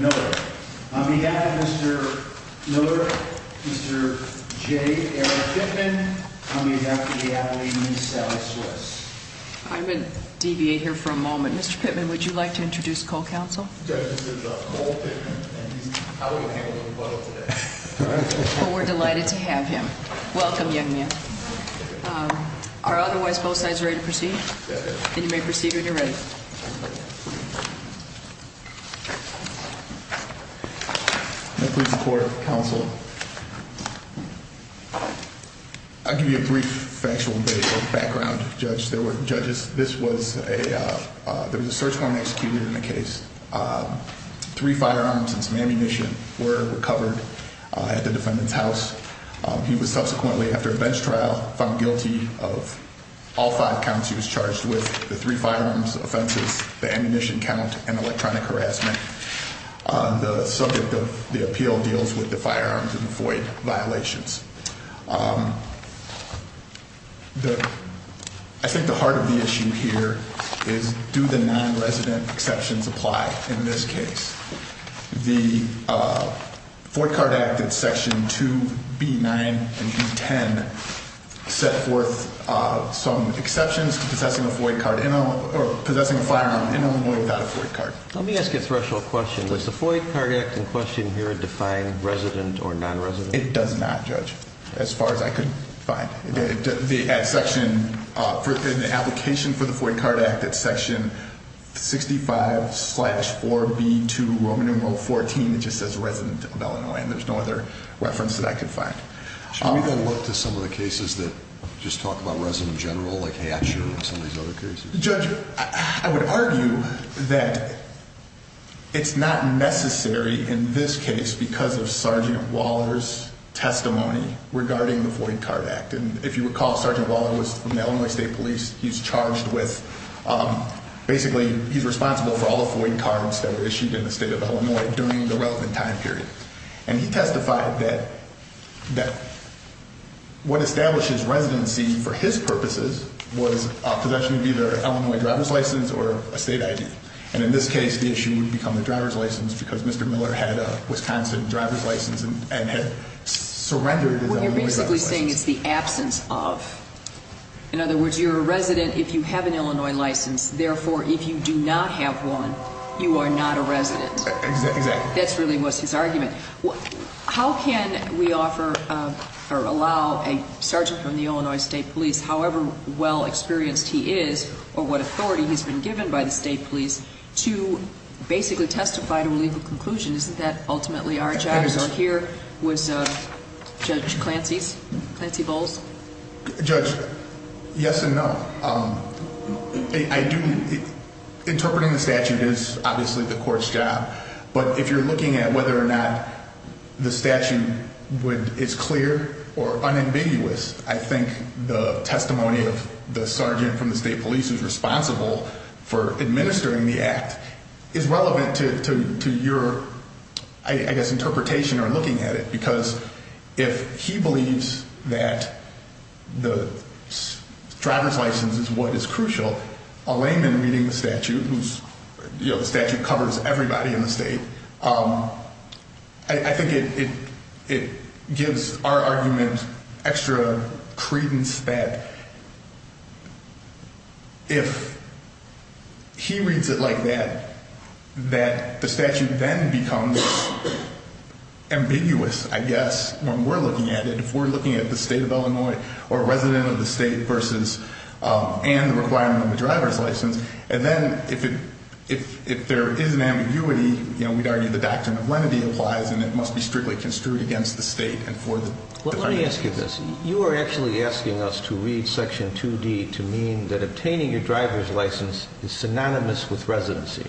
Miller. On behalf of Mr. Miller, Mr. J. Eric Pittman, I'm going to have to get out of the way to meet Sally Swiss. I'm going to deviate here for a moment. Mr. Pittman, would you like to introduce Cole Counsel? Judge, this is Cole Pittman, and he's probably going to handle the rebuttal today. Well, we're delighted to have him. Welcome, young man. Are otherwise both sides ready to proceed? And you may proceed when you're ready. May I please report, Counsel? I'll give you a brief factual background, Judge. There were judges, this was a, there was a search warrant executed in the case. Three firearms and some ammunition were recovered at the defendant's house. He was subsequently, after a bench trial, found guilty of all five counts. He was charged with the three firearms offenses, the ammunition count, and electronic harassment. The subject of the appeal deals with the firearms and FOIA violations. I think the heart of the issue here is do the non-resident exceptions apply in this case? The FOIA card act in section 2B9 and B10 set forth some exceptions to possessing a FOIA card or possessing a firearm in Illinois without a FOIA card. Let me ask you a threshold question. Does the FOIA card act in question here define resident or non-resident? It does not, Judge, as far as I could find. The section, the application for the FOIA card act at section 65 slash 4B2 Roman numeral 14, it just says resident of Illinois, and there's no other reference that I could find. Should we go look to some of the cases that just talk about resident general, like Hatcher and some of these other cases? Judge, I would argue that it's not necessary in this case because of Sergeant Waller's testimony regarding the FOIA card act. And if you recall, Sergeant Waller was from the Illinois State Police. He's charged with, basically, he's responsible for all the FOIA cards that were issued in the state of Illinois during the relevant time period. And he testified that what establishes residency for his purposes was a possession of either an Illinois driver's license or a state ID. And in this case, the issue would become the driver's license because Mr. Miller had a Wisconsin driver's license and had surrendered his Illinois driver's license. You're basically saying it's the absence of. In other words, you're a resident if you have an Illinois license. Therefore, if you do not have one, you are not a resident. Exactly. That really was his argument. How can we offer or allow a sergeant from the Illinois State Police, however well experienced he is or what authority he's been given by the state police, to basically testify to a legal conclusion? Isn't that Judge Clancy's, Clancy Bowles? Judge, yes and no. Interpreting the statute is obviously the court's job. But if you're looking at whether or not the statute is clear or unambiguous, I think the testimony of the sergeant from the state police is responsible for administering the act is relevant to your, I guess, interpretation or looking at it. Because if he believes that the driver's license is what is crucial, a layman reading the statute, whose statute covers everybody in the state, I think it gives our argument extra credence that if he reads it like that, that the statute then becomes ambiguous, I guess, when we're looking at it. If we're looking at the state of Illinois or a resident of the state versus, and the requirement of the driver's license, and then if it, if there is an ambiguity, you know, we'd argue the doctrine of lenity applies and it must be strictly construed against the state and for the defense. Let me ask you this. You are actually asking us to read is synonymous with residency.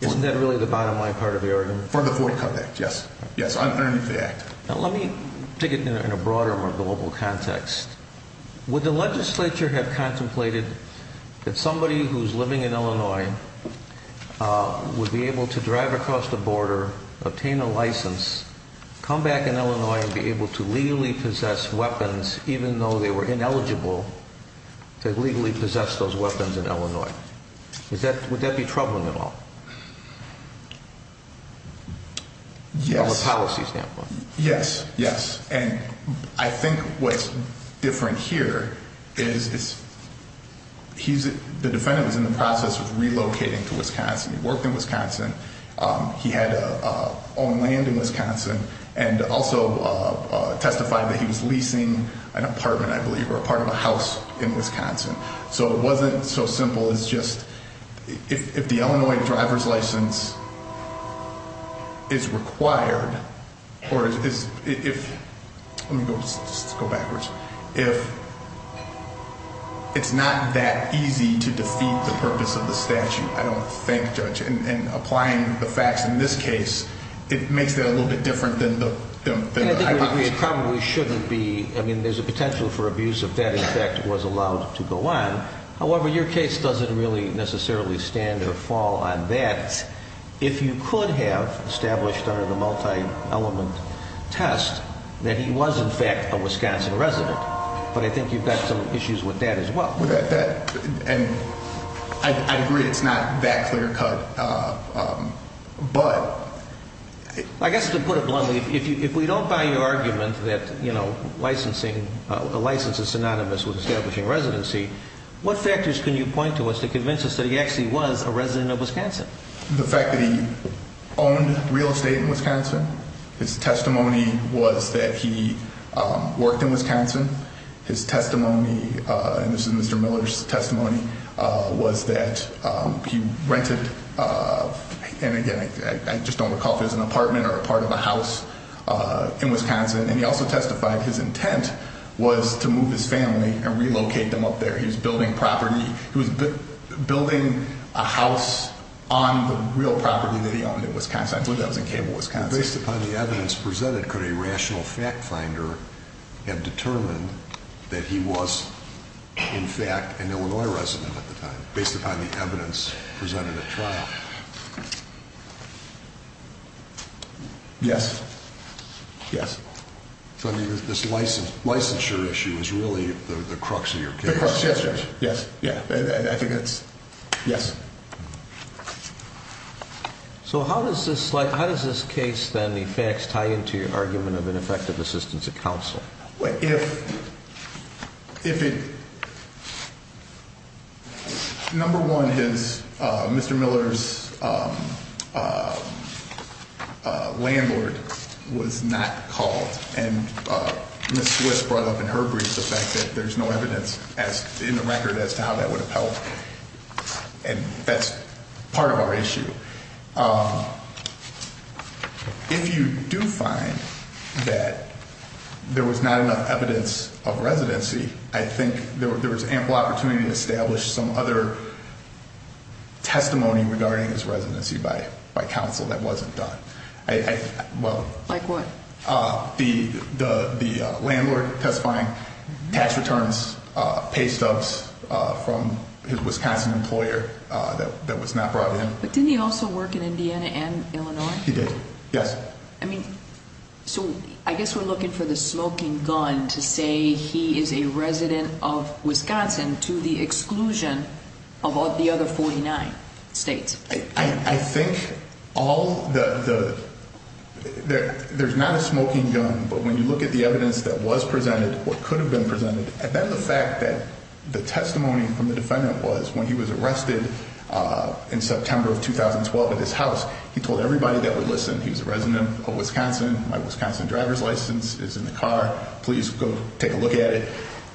Isn't that really the bottom line part of the argument? For the Ford Cup Act, yes. Yes, underneath the act. Now let me take it in a broader, more global context. Would the legislature have contemplated that somebody who's living in Illinois would be able to drive across the border, obtain a license, come back in Illinois and be able to legally possess weapons, even though they were ineligible to legally possess those weapons in Illinois? Is that, would that be troubling at all? Yes. From a policy standpoint? Yes. Yes. And I think what's different here is he's, the defendant was in the process of relocating to Wisconsin. He worked in Wisconsin. He had owned land in Wisconsin and also testified that he was leasing an apartment, I believe, or a part of a house in Wisconsin. So it wasn't so simple as just, if the Illinois driver's license is required or is, if, let me go backwards, if it's not that easy to defeat the purpose of the statute, I don't think, Judge, and applying the facts in this case, it makes that a little bit different than the hypothesis. And I think we probably shouldn't be, I mean, there's a potential for abuse if that, in fact, was allowed to go on. However, your case doesn't really necessarily stand or fall on that. If you could have established under the multi-element test that he was, in fact, a Wisconsin resident, but I think you've got some issues with that as well. With that, and I agree it's not that clear cut, but... I guess to put it bluntly, if we don't buy your argument that licensing, a license is synonymous with establishing residency, what factors can you point to as to convince us that he actually was a resident of Wisconsin? The fact that he owned real estate in Wisconsin, his testimony was that he worked in Wisconsin, his testimony, and this is Mr. Miller's testimony, was that he rented, and again, I just don't recall if it was an apartment or a part of a house, in Wisconsin, and he also testified his intent was to move his family and relocate them up there. He was building property, he was building a house on the real property that he owned in Wisconsin. I believe that was in Cable, Wisconsin. Based upon the evidence presented, could a rational fact finder have determined that he was, in fact, an Illinois resident at the time, based upon the evidence presented at trial? Yes. Yes. So I mean, this licensure issue is really the crux of your case. Yes. Yes. Yes. Yes. I think that's, yes. So how does this case, then, the facts tie into your argument of an effective assistance at counsel? If it, number one is Mr. Miller's landlord was not called, and Ms. Swiss brought up in her brief the fact that there's no evidence as, in the record, as to how that would have helped, and that's part of our issue. If you do find that there was not enough evidence of residency, I think there was ample opportunity to establish some other testimony regarding his residency by counsel that wasn't done. Like what? The landlord testifying, tax returns, pay stubs from his Wisconsin employer that was not brought in. But didn't he also work in Indiana and Illinois? He did, yes. I mean, so I guess we're looking for the smoking gun to say he is a resident of Wisconsin to the there's not a smoking gun, but when you look at the evidence that was presented, what could have been presented, and then the fact that the testimony from the defendant was when he was arrested in September of 2012 at his house, he told everybody that would listen he was a resident of Wisconsin, my Wisconsin driver's license is in the car, please go take a look at it.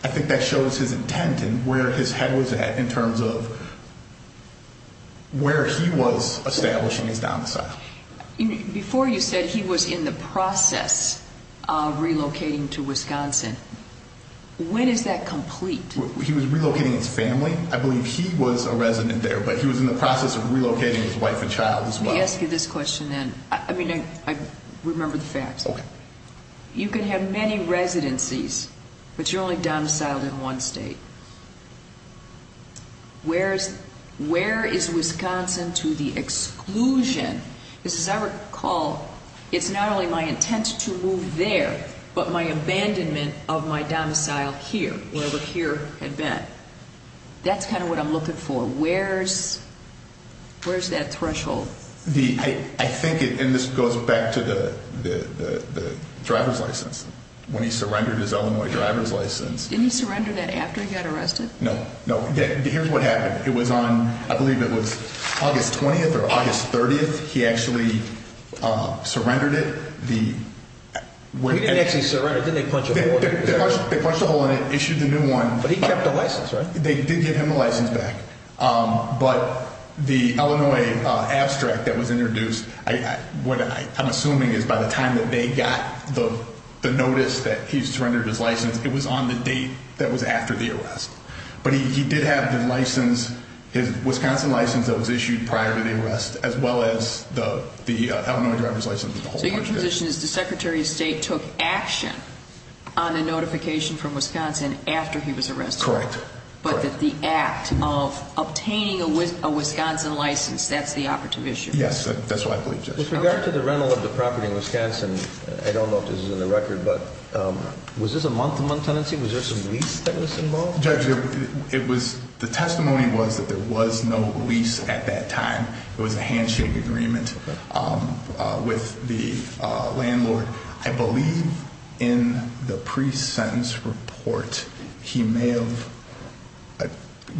I think that shows his intent and where his head was at in terms of where he was establishing his domicile. Before you said he was in the process of relocating to Wisconsin, when is that complete? He was relocating his family. I believe he was a resident there, but he was in the process of relocating his wife and child as well. Let me ask you this question then. I mean, I remember the facts. Okay. You can have many Where is Wisconsin to the exclusion? Because as I recall, it's not only my intent to move there, but my abandonment of my domicile here, wherever here had been. That's kind of what I'm looking for. Where's that threshold? I think, and this goes back to the driver's license, when he surrendered his Illinois driver's license. Didn't he surrender that after he got arrested? No, no. Here's what happened. It was on, I believe it was August 20th or August 30th. He actually surrendered it. He didn't actually surrender, did they punch a hole in it? They punched a hole in it, issued the new one. But he kept the license, right? They did give him a license back. But the Illinois abstract that was introduced, what I'm assuming is by the time that they got the notice that he's surrendered his license, it was on the date that was after the arrest. But he did have the license, his Wisconsin license that was issued prior to the arrest, as well as the Illinois driver's license. So your position is the Secretary of State took action on a notification from Wisconsin after he was arrested? Correct. But that the act of obtaining a Wisconsin license, that's the operative issue? Yes, that's what I believe, Judge. With regard to the rental of the property in Wisconsin, I don't know if this is in the common tenancy, was there some lease that was involved? Judge, it was, the testimony was that there was no lease at that time. It was a handshake agreement with the landlord. I believe in the pre-sentence report, he may have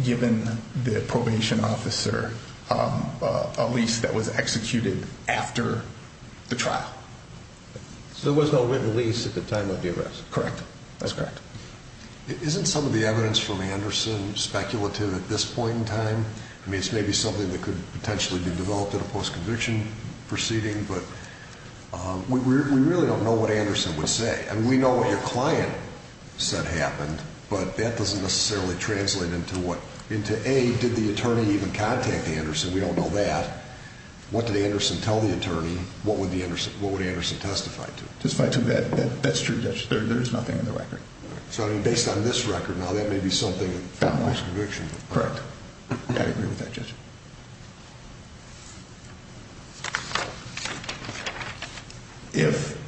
given the probation officer a lease that was executed after the trial. So there was no written lease at the time of the arrest? Correct. That's correct. Isn't some of the evidence from Anderson speculative at this point in time? I mean, it's maybe something that could potentially be developed at a post-conviction proceeding, but we really don't know what Anderson would say. I mean, we know what your client said happened, but that doesn't necessarily translate into A, did the attorney even contact Anderson? We don't know that. What did Anderson tell the attorney? What would Anderson testify to? That's true, Judge. There's nothing in the record. So, I mean, based on this record now, that may be something from post-conviction. Correct. I agree with that, Judge. If...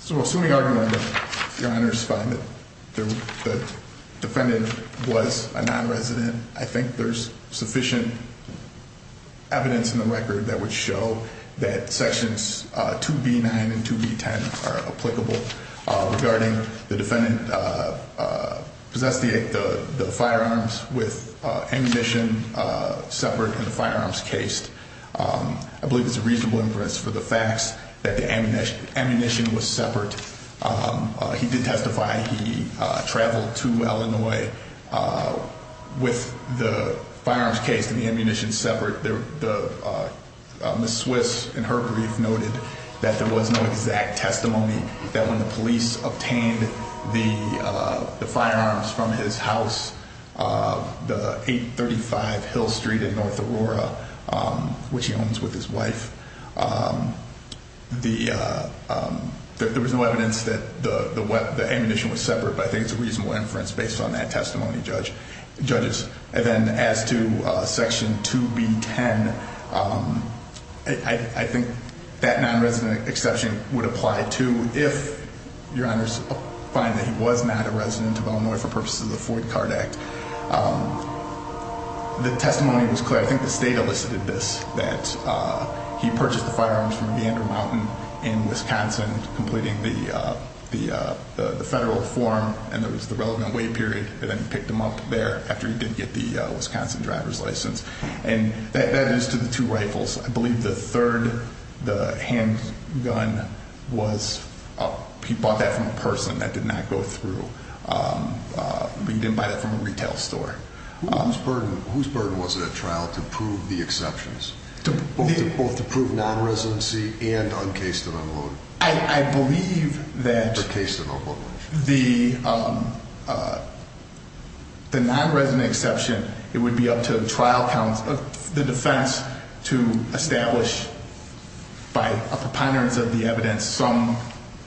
So assuming argument that your Honor's fine, that the defendant was a non-resident, I think there's sufficient evidence in the record that would show that sections 2B9 and 2B10 are applicable regarding the defendant possessing the firearms with ammunition separate in the firearms case. I believe it's a reasonable inference for the facts that the ammunition was separate. He did testify. He traveled to Illinois with the firearms case and the ammunition separate. Ms. Swiss, in her brief, noted that there was no exact testimony that when the police obtained the firearms from his house, the 835 Hill Street in North Aurora, which he owns with his wife, there was no evidence that the ammunition was separate. But I think it's a reasonable inference based on that testimony, Judges. And then as to section 2B10, I think that non-resident exception would apply, too, if your Honor's fine that he was not a resident of Illinois for purposes of the Ford-Card Act. The testimony was clear. I think the state elicited this, that he purchased the firearms from Vander Mountain in Wisconsin, completing the federal form, and there was the relevant wait period, and then he picked them up there after he did get the Wisconsin driver's license. And that is to the two rifles. I believe the third, the handgun, he bought that from a person. That did not go through. He didn't buy that from a retail store. Whose burden was it at trial to prove the exceptions? Both to prove non-residency and on case-to-no-vote? I believe that the non-resident exception, it would be up to the trial counsel, the defense, to establish by a preponderance of the evidence some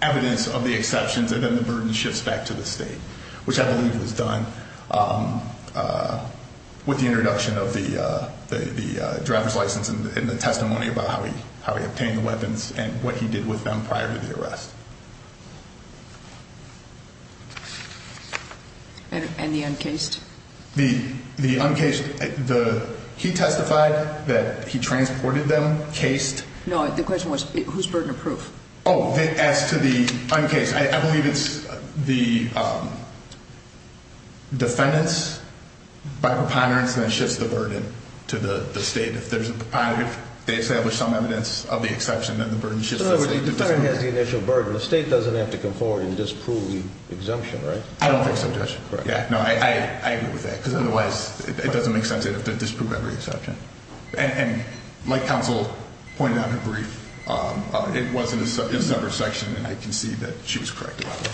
evidence of the exceptions, and then the burden shifts back to the state, which I believe was done with the introduction of the driver's license and the testimony about how he obtained the weapons and what he did with them prior to the arrest. And the uncased? The uncased, he testified that he transported them, cased. No, the question was whose burden of proof? Oh, as to the uncased, I believe it's the defendant's by preponderance that shifts the burden to the state. If they establish some evidence of the exception, then the burden shifts to the state. So the defendant has the initial burden. The state doesn't have to come forward and disprove the exemption, right? I don't think so, Judge. I agree with that, because otherwise it doesn't make sense to disprove every exception. And like counsel pointed out in her brief, it was in a separate section, and I can see that she was correct about that.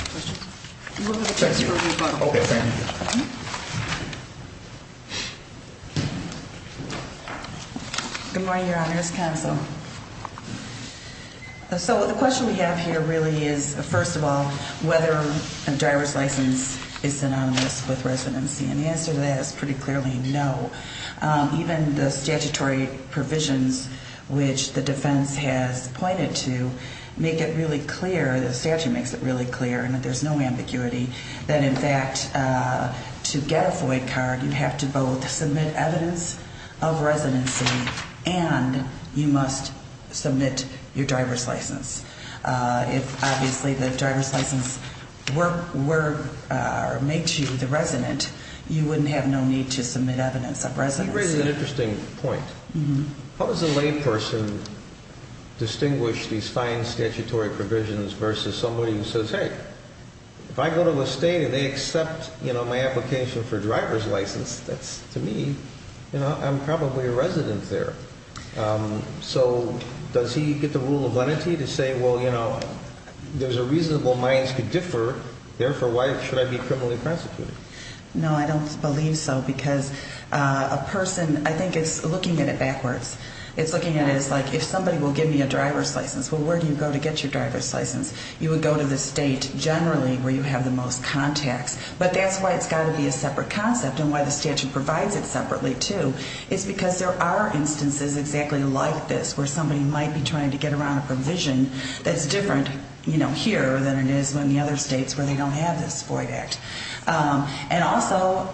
Thank you. Good morning, Your Honors. Counsel. So the question we have here really is, first of all, whether a driver's license is synonymous with residency. And the answer to that is pretty clearly no. Even the statutory provisions which the defense has pointed to make it really clear, the statute makes it really clear, and there's no ambiguity, that in fact, to get a FOIA card, you have to both submit evidence of residency and you must submit your driver's license. If, obviously, the driver's license makes you the resident, you wouldn't have no need to submit evidence of residency. You raise an interesting point. How does a layperson distinguish these fine statutory provisions versus somebody who says, hey, if I go to the state and they accept my application for a driver's license, that's, to me, I'm probably a resident there. So does he get the rule of lenity to say, well, you know, there's a reason why mines could differ, therefore, why should I be criminally prosecuted? No, I don't believe so, because a person, I think, is looking at it backwards. It's looking at it as, like, if somebody will give me a driver's license, well, where do you go to get your driver's license? You would go to the state, generally, where you have the most contacts. But that's why it's got to be a separate concept and why the statute provides it separately, too. It's because there are instances exactly like this where somebody might be trying to get around a provision that's different, you know, here than it is in the other states where they don't have this FOIA Act. And also,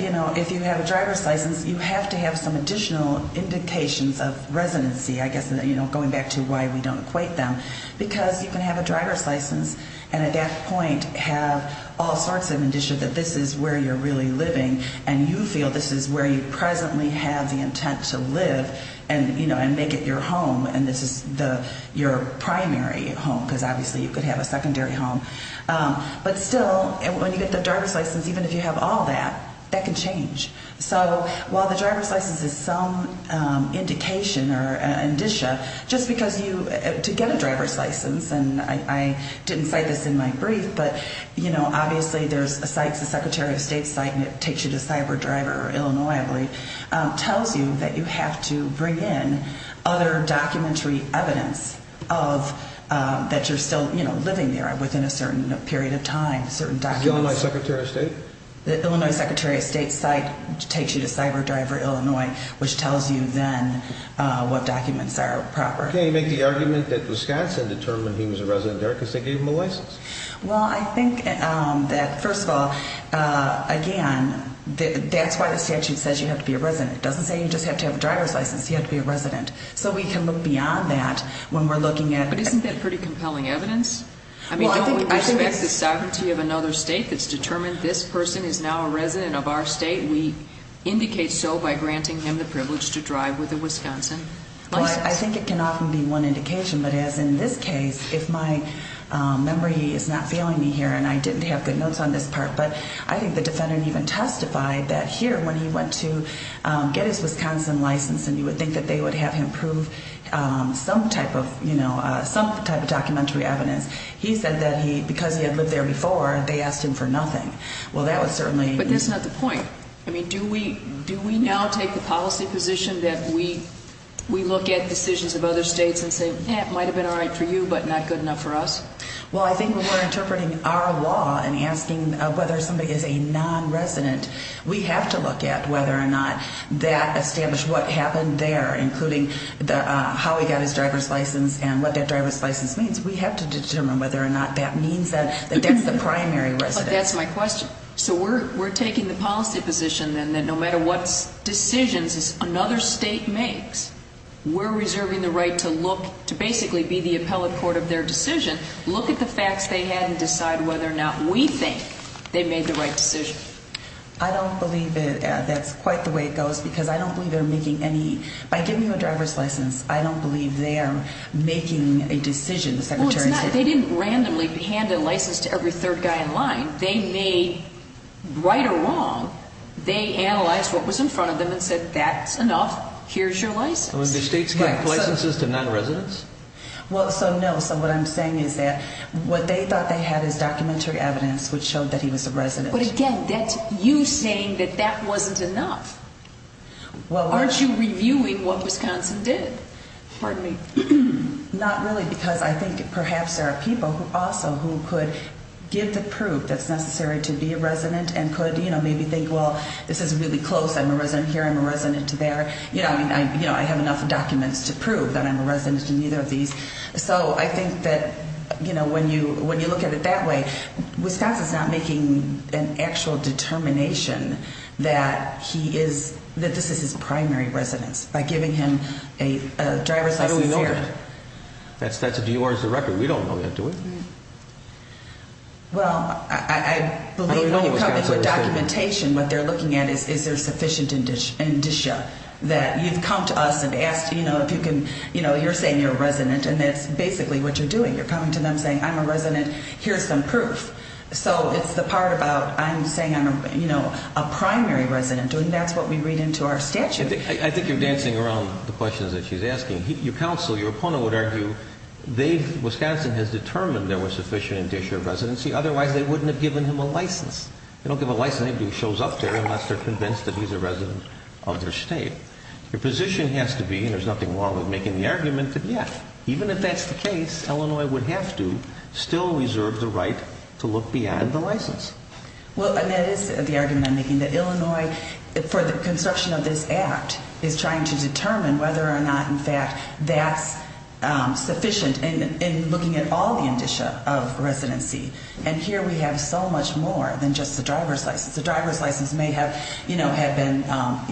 you know, if you have a driver's license, you have to have some additional indications of residency, I guess, you know, going back to why we don't equate them, because you can have a driver's license and, at that point, have all sorts of indicia that this is where you're really living and you feel this is where you presently have the intent to live and, you know, make it your home and this is your primary home, because obviously you could have a secondary home. But still, when you get the driver's license, even if you have all that, that can change. So while the driver's license is some indication or indicia, just because you, to get a driver's license, and I didn't cite this in my brief, but, you know, obviously there's a site, the Secretary of State site, and it takes you to CyberDriver, Illinois, I believe, tells you that you have to bring in other documentary evidence of that you're still, you know, living there within a certain period of time, certain documents. The Illinois Secretary of State? The Illinois Secretary of State site takes you to CyberDriver, Illinois, which tells you then what documents are proper. Why can't he make the argument that Wisconsin determined he was a resident there because they gave him a license? Well, I think that, first of all, again, that's why the statute says you have to be a resident. It doesn't say you just have to have a driver's license, you have to be a resident. So we can look beyond that when we're looking at... But isn't that pretty compelling evidence? I mean, don't we respect the sovereignty of another state that's determined this person is now a resident of our state? We indicate so by granting him the privilege to drive with a Wisconsin license. Well, I think it can often be one indication. But as in this case, if my memory is not failing me here, and I didn't have good notes on this part, but I think the defendant even testified that here when he went to get his Wisconsin license and you would think that they would have him prove some type of, you know, some type of documentary evidence, he said that because he had lived there before, they asked him for nothing. Well, that would certainly... But that's not the point. I mean, do we now take the policy position that we look at decisions of other states and say, eh, it might have been all right for you, but not good enough for us? Well, I think when we're interpreting our law and asking whether somebody is a non-resident, we have to look at whether or not that established what happened there, including how he got his driver's license and what that driver's license means. We have to determine whether or not that means that that's the primary resident. But that's my question. So we're taking the policy position then that no matter what decisions another state makes, we're reserving the right to look, to basically be the appellate court of their decision, look at the facts they had and decide whether or not we think they made the right decision. I don't believe that that's quite the way it goes, because I don't believe they're making any... By giving you a driver's license, I don't believe they are making a decision, the Secretary said. Well, it's not... They didn't randomly hand a license to every third guy in line. They made, right or wrong, they analyzed what was in front of them and said, that's enough, here's your license. I mean, do states give licenses to non-residents? Well, so no. So what I'm saying is that what they thought they had is documentary evidence which showed that he was a resident. But again, that's you saying that that wasn't enough. Well, we're... Aren't you reviewing what Wisconsin did? Pardon me. Not really, because I think perhaps there are people also who could give the proof that's necessary to be a resident and could, you know, maybe think, well, this is really close, I'm a resident here, I'm a resident there. You know, I mean, I have enough documents to prove that I'm a resident in either of these. So I think that, you know, when you look at it that way, Wisconsin's not making an actual determination that he is... that this is his primary residence. By giving him a driver's license... How do we know that? That's a DOR's record. We don't know that, do we? Well, I believe when you come into a documentation, what they're looking at is, is there sufficient indicia that you've come to us and asked, you know, if you can... you know, you're saying you're a resident and that's basically what you're doing. You're coming to them saying, I'm a resident, here's some proof. So it's the part about, I'm saying I'm, you know, a primary resident and that's what we read into our statute. I think you're dancing around the questions that she's asking. Your counsel, your opponent would argue, Wisconsin has determined there was sufficient indicia of residency, otherwise they wouldn't have given him a license. They don't give a license to anybody who shows up there unless they're convinced that he's a resident of their state. Your position has to be, and there's nothing wrong with making the argument, that yes, even if that's the case, Illinois would have to still reserve the right to look beyond the license. Well, and that is the argument I'm making, that Illinois, for the construction of this act, is trying to determine whether or not, in fact, that's sufficient in looking at all the indicia of residency. And here we have so much more than just the driver's license. The driver's license may have, you know, had been,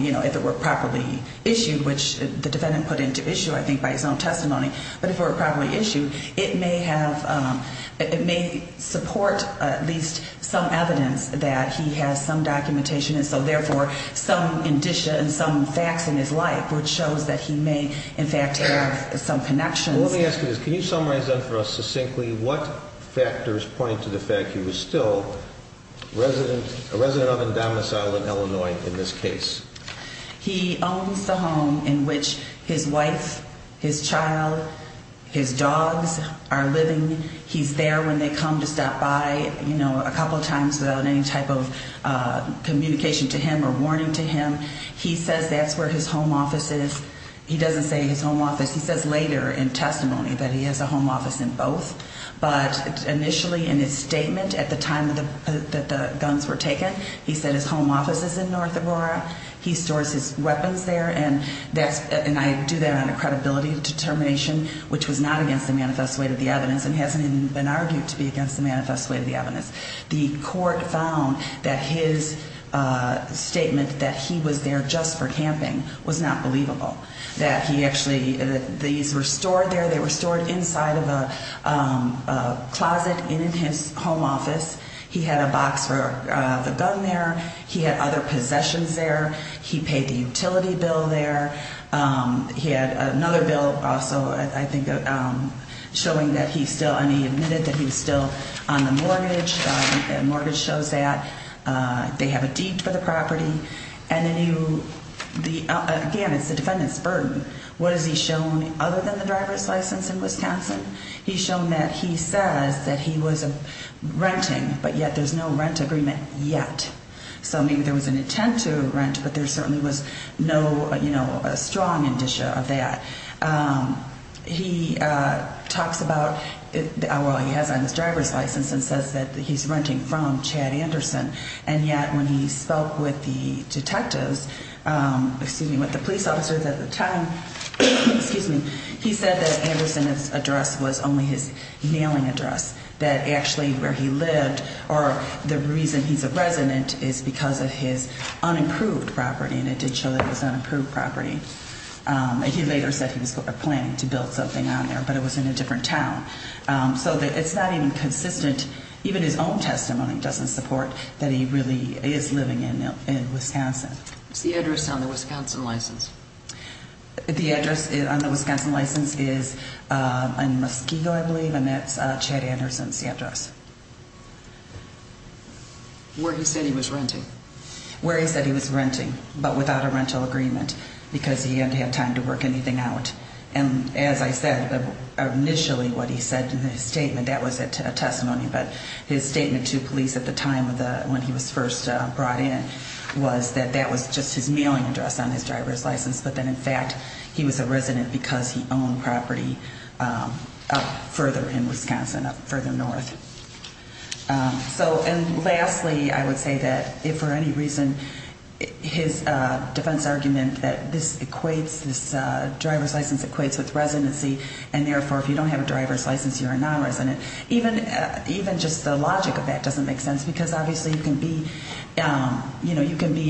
you know, if it were properly issued, which the defendant put into issue, I think, by his own testimony, but if it were properly issued, it may have, it may support at least some evidence that he has some documentation, and so, therefore, some indicia and some facts in his life, which shows that he may, in fact, have some connections. Well, let me ask you this. Can you summarize that for us succinctly? What factors point to the fact he was still a resident of Indominus Island, Illinois, in this case? He owns the home in which his wife, his child, his dogs are living. He's there when they come to stop by, you know, a couple times without any type of communication to him or warning to him. He says that's where his home office is. He doesn't say his home office. He says later in testimony that he has a home office in both, but initially in his statement at the time that the guns were taken, he said his home office is in North Aurora. He stores his weapons there, and that's, and I do that on a credibility determination, which was not against the manifest way of the evidence and hasn't even been argued to be against the manifest way of the evidence. The court found that his statement that he was there just for camping was not believable, that he actually, these were stored there. They were stored inside of a closet in his home office. He had a box for the gun there. He had other possessions there. He paid the utility bill there. He had another bill also, I think, showing that he still, and he admitted that he was still on the mortgage and the mortgage shows that. They have a deed for the property. And then he, again, it's the defendant's burden. What has he shown other than the driver's license in Wisconsin? He's shown that he says that he was renting, but yet there's no rent agreement yet. So maybe there was an intent to rent, but there certainly was no strong indicia of that. He talks about, well, he has on his driver's license and says that he's renting from Chad Anderson. And yet when he spoke with the detectives, excuse me, with the police officers at the time, excuse me, he said that Anderson's address was only his mailing address, that actually where he lived or the reason he's a resident is because of his unapproved property. And it did show that it was unapproved property. He later said he was planning to build something on there, but it was in a different town. So it's not even consistent. Even his own testimony doesn't support that he really is living in Wisconsin. What's the address on the Wisconsin license? The address on the Wisconsin license is in Muskego, I believe, and that's Chad Anderson's address. Where he said he was renting? Where he said he was renting, but without a rental agreement because he hadn't had time to work anything out. And as I said, initially what he said in his statement, that was a testimony, but his statement to police at the time when he was first brought in was that that was just his mailing address on his driver's license. But then in fact, he was a resident because he owned property up further in Wisconsin, up further north. And lastly, I would say that if for any reason his defense argument that this equates, this driver's license equates with residency and therefore if you don't have a driver's license, you're a non-resident, even just the logic of that doesn't make sense because obviously you can be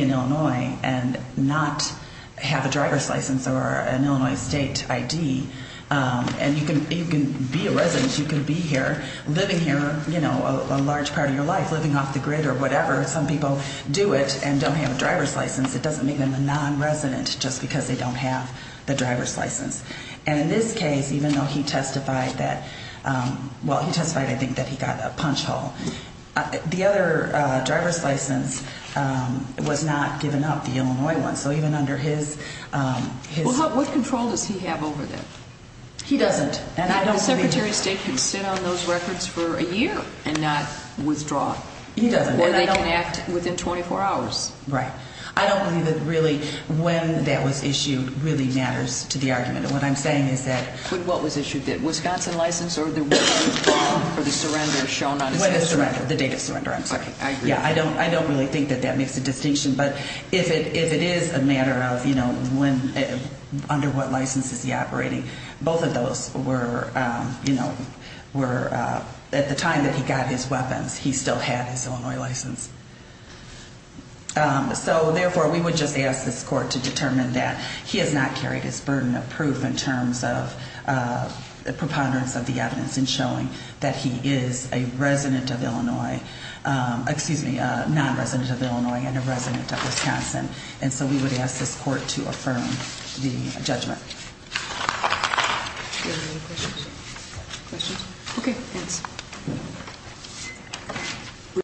in Illinois and not have a driver's license or an Illinois state ID and you can be a resident, you can be here, living here a large part of your life, living off the grid or whatever. Some people do it and don't have a driver's license. It doesn't make them a non-resident just because they don't have the driver's license. And in this case, even though he testified that, well, he testified I think that he got a punch hole, the other driver's license was not given up, the Illinois one. So even under his... Well, what control does he have over that? He doesn't. And I don't believe... And the Secretary of State can sit on those records for a year and not withdraw. He doesn't. And when that was issued really matters to the argument. And what I'm saying is that... What was issued, the Wisconsin license or the surrender shown on his... The date of surrender, I'm sorry. Okay, I agree. Yeah, I don't really think that that makes a distinction, but if it is a matter of, you know, under what license is he operating, both of those were, you know, at the time that he got his weapons, he still had his Illinois license. So therefore, we would just ask this court to determine that he has not carried his burden of proof in terms of a preponderance of the evidence in showing that he is a resident of Illinois... Excuse me, a non-resident of Illinois and a resident of Wisconsin. And so we would ask this court to affirm the judgment. Do you have any questions? Questions? Okay, thanks.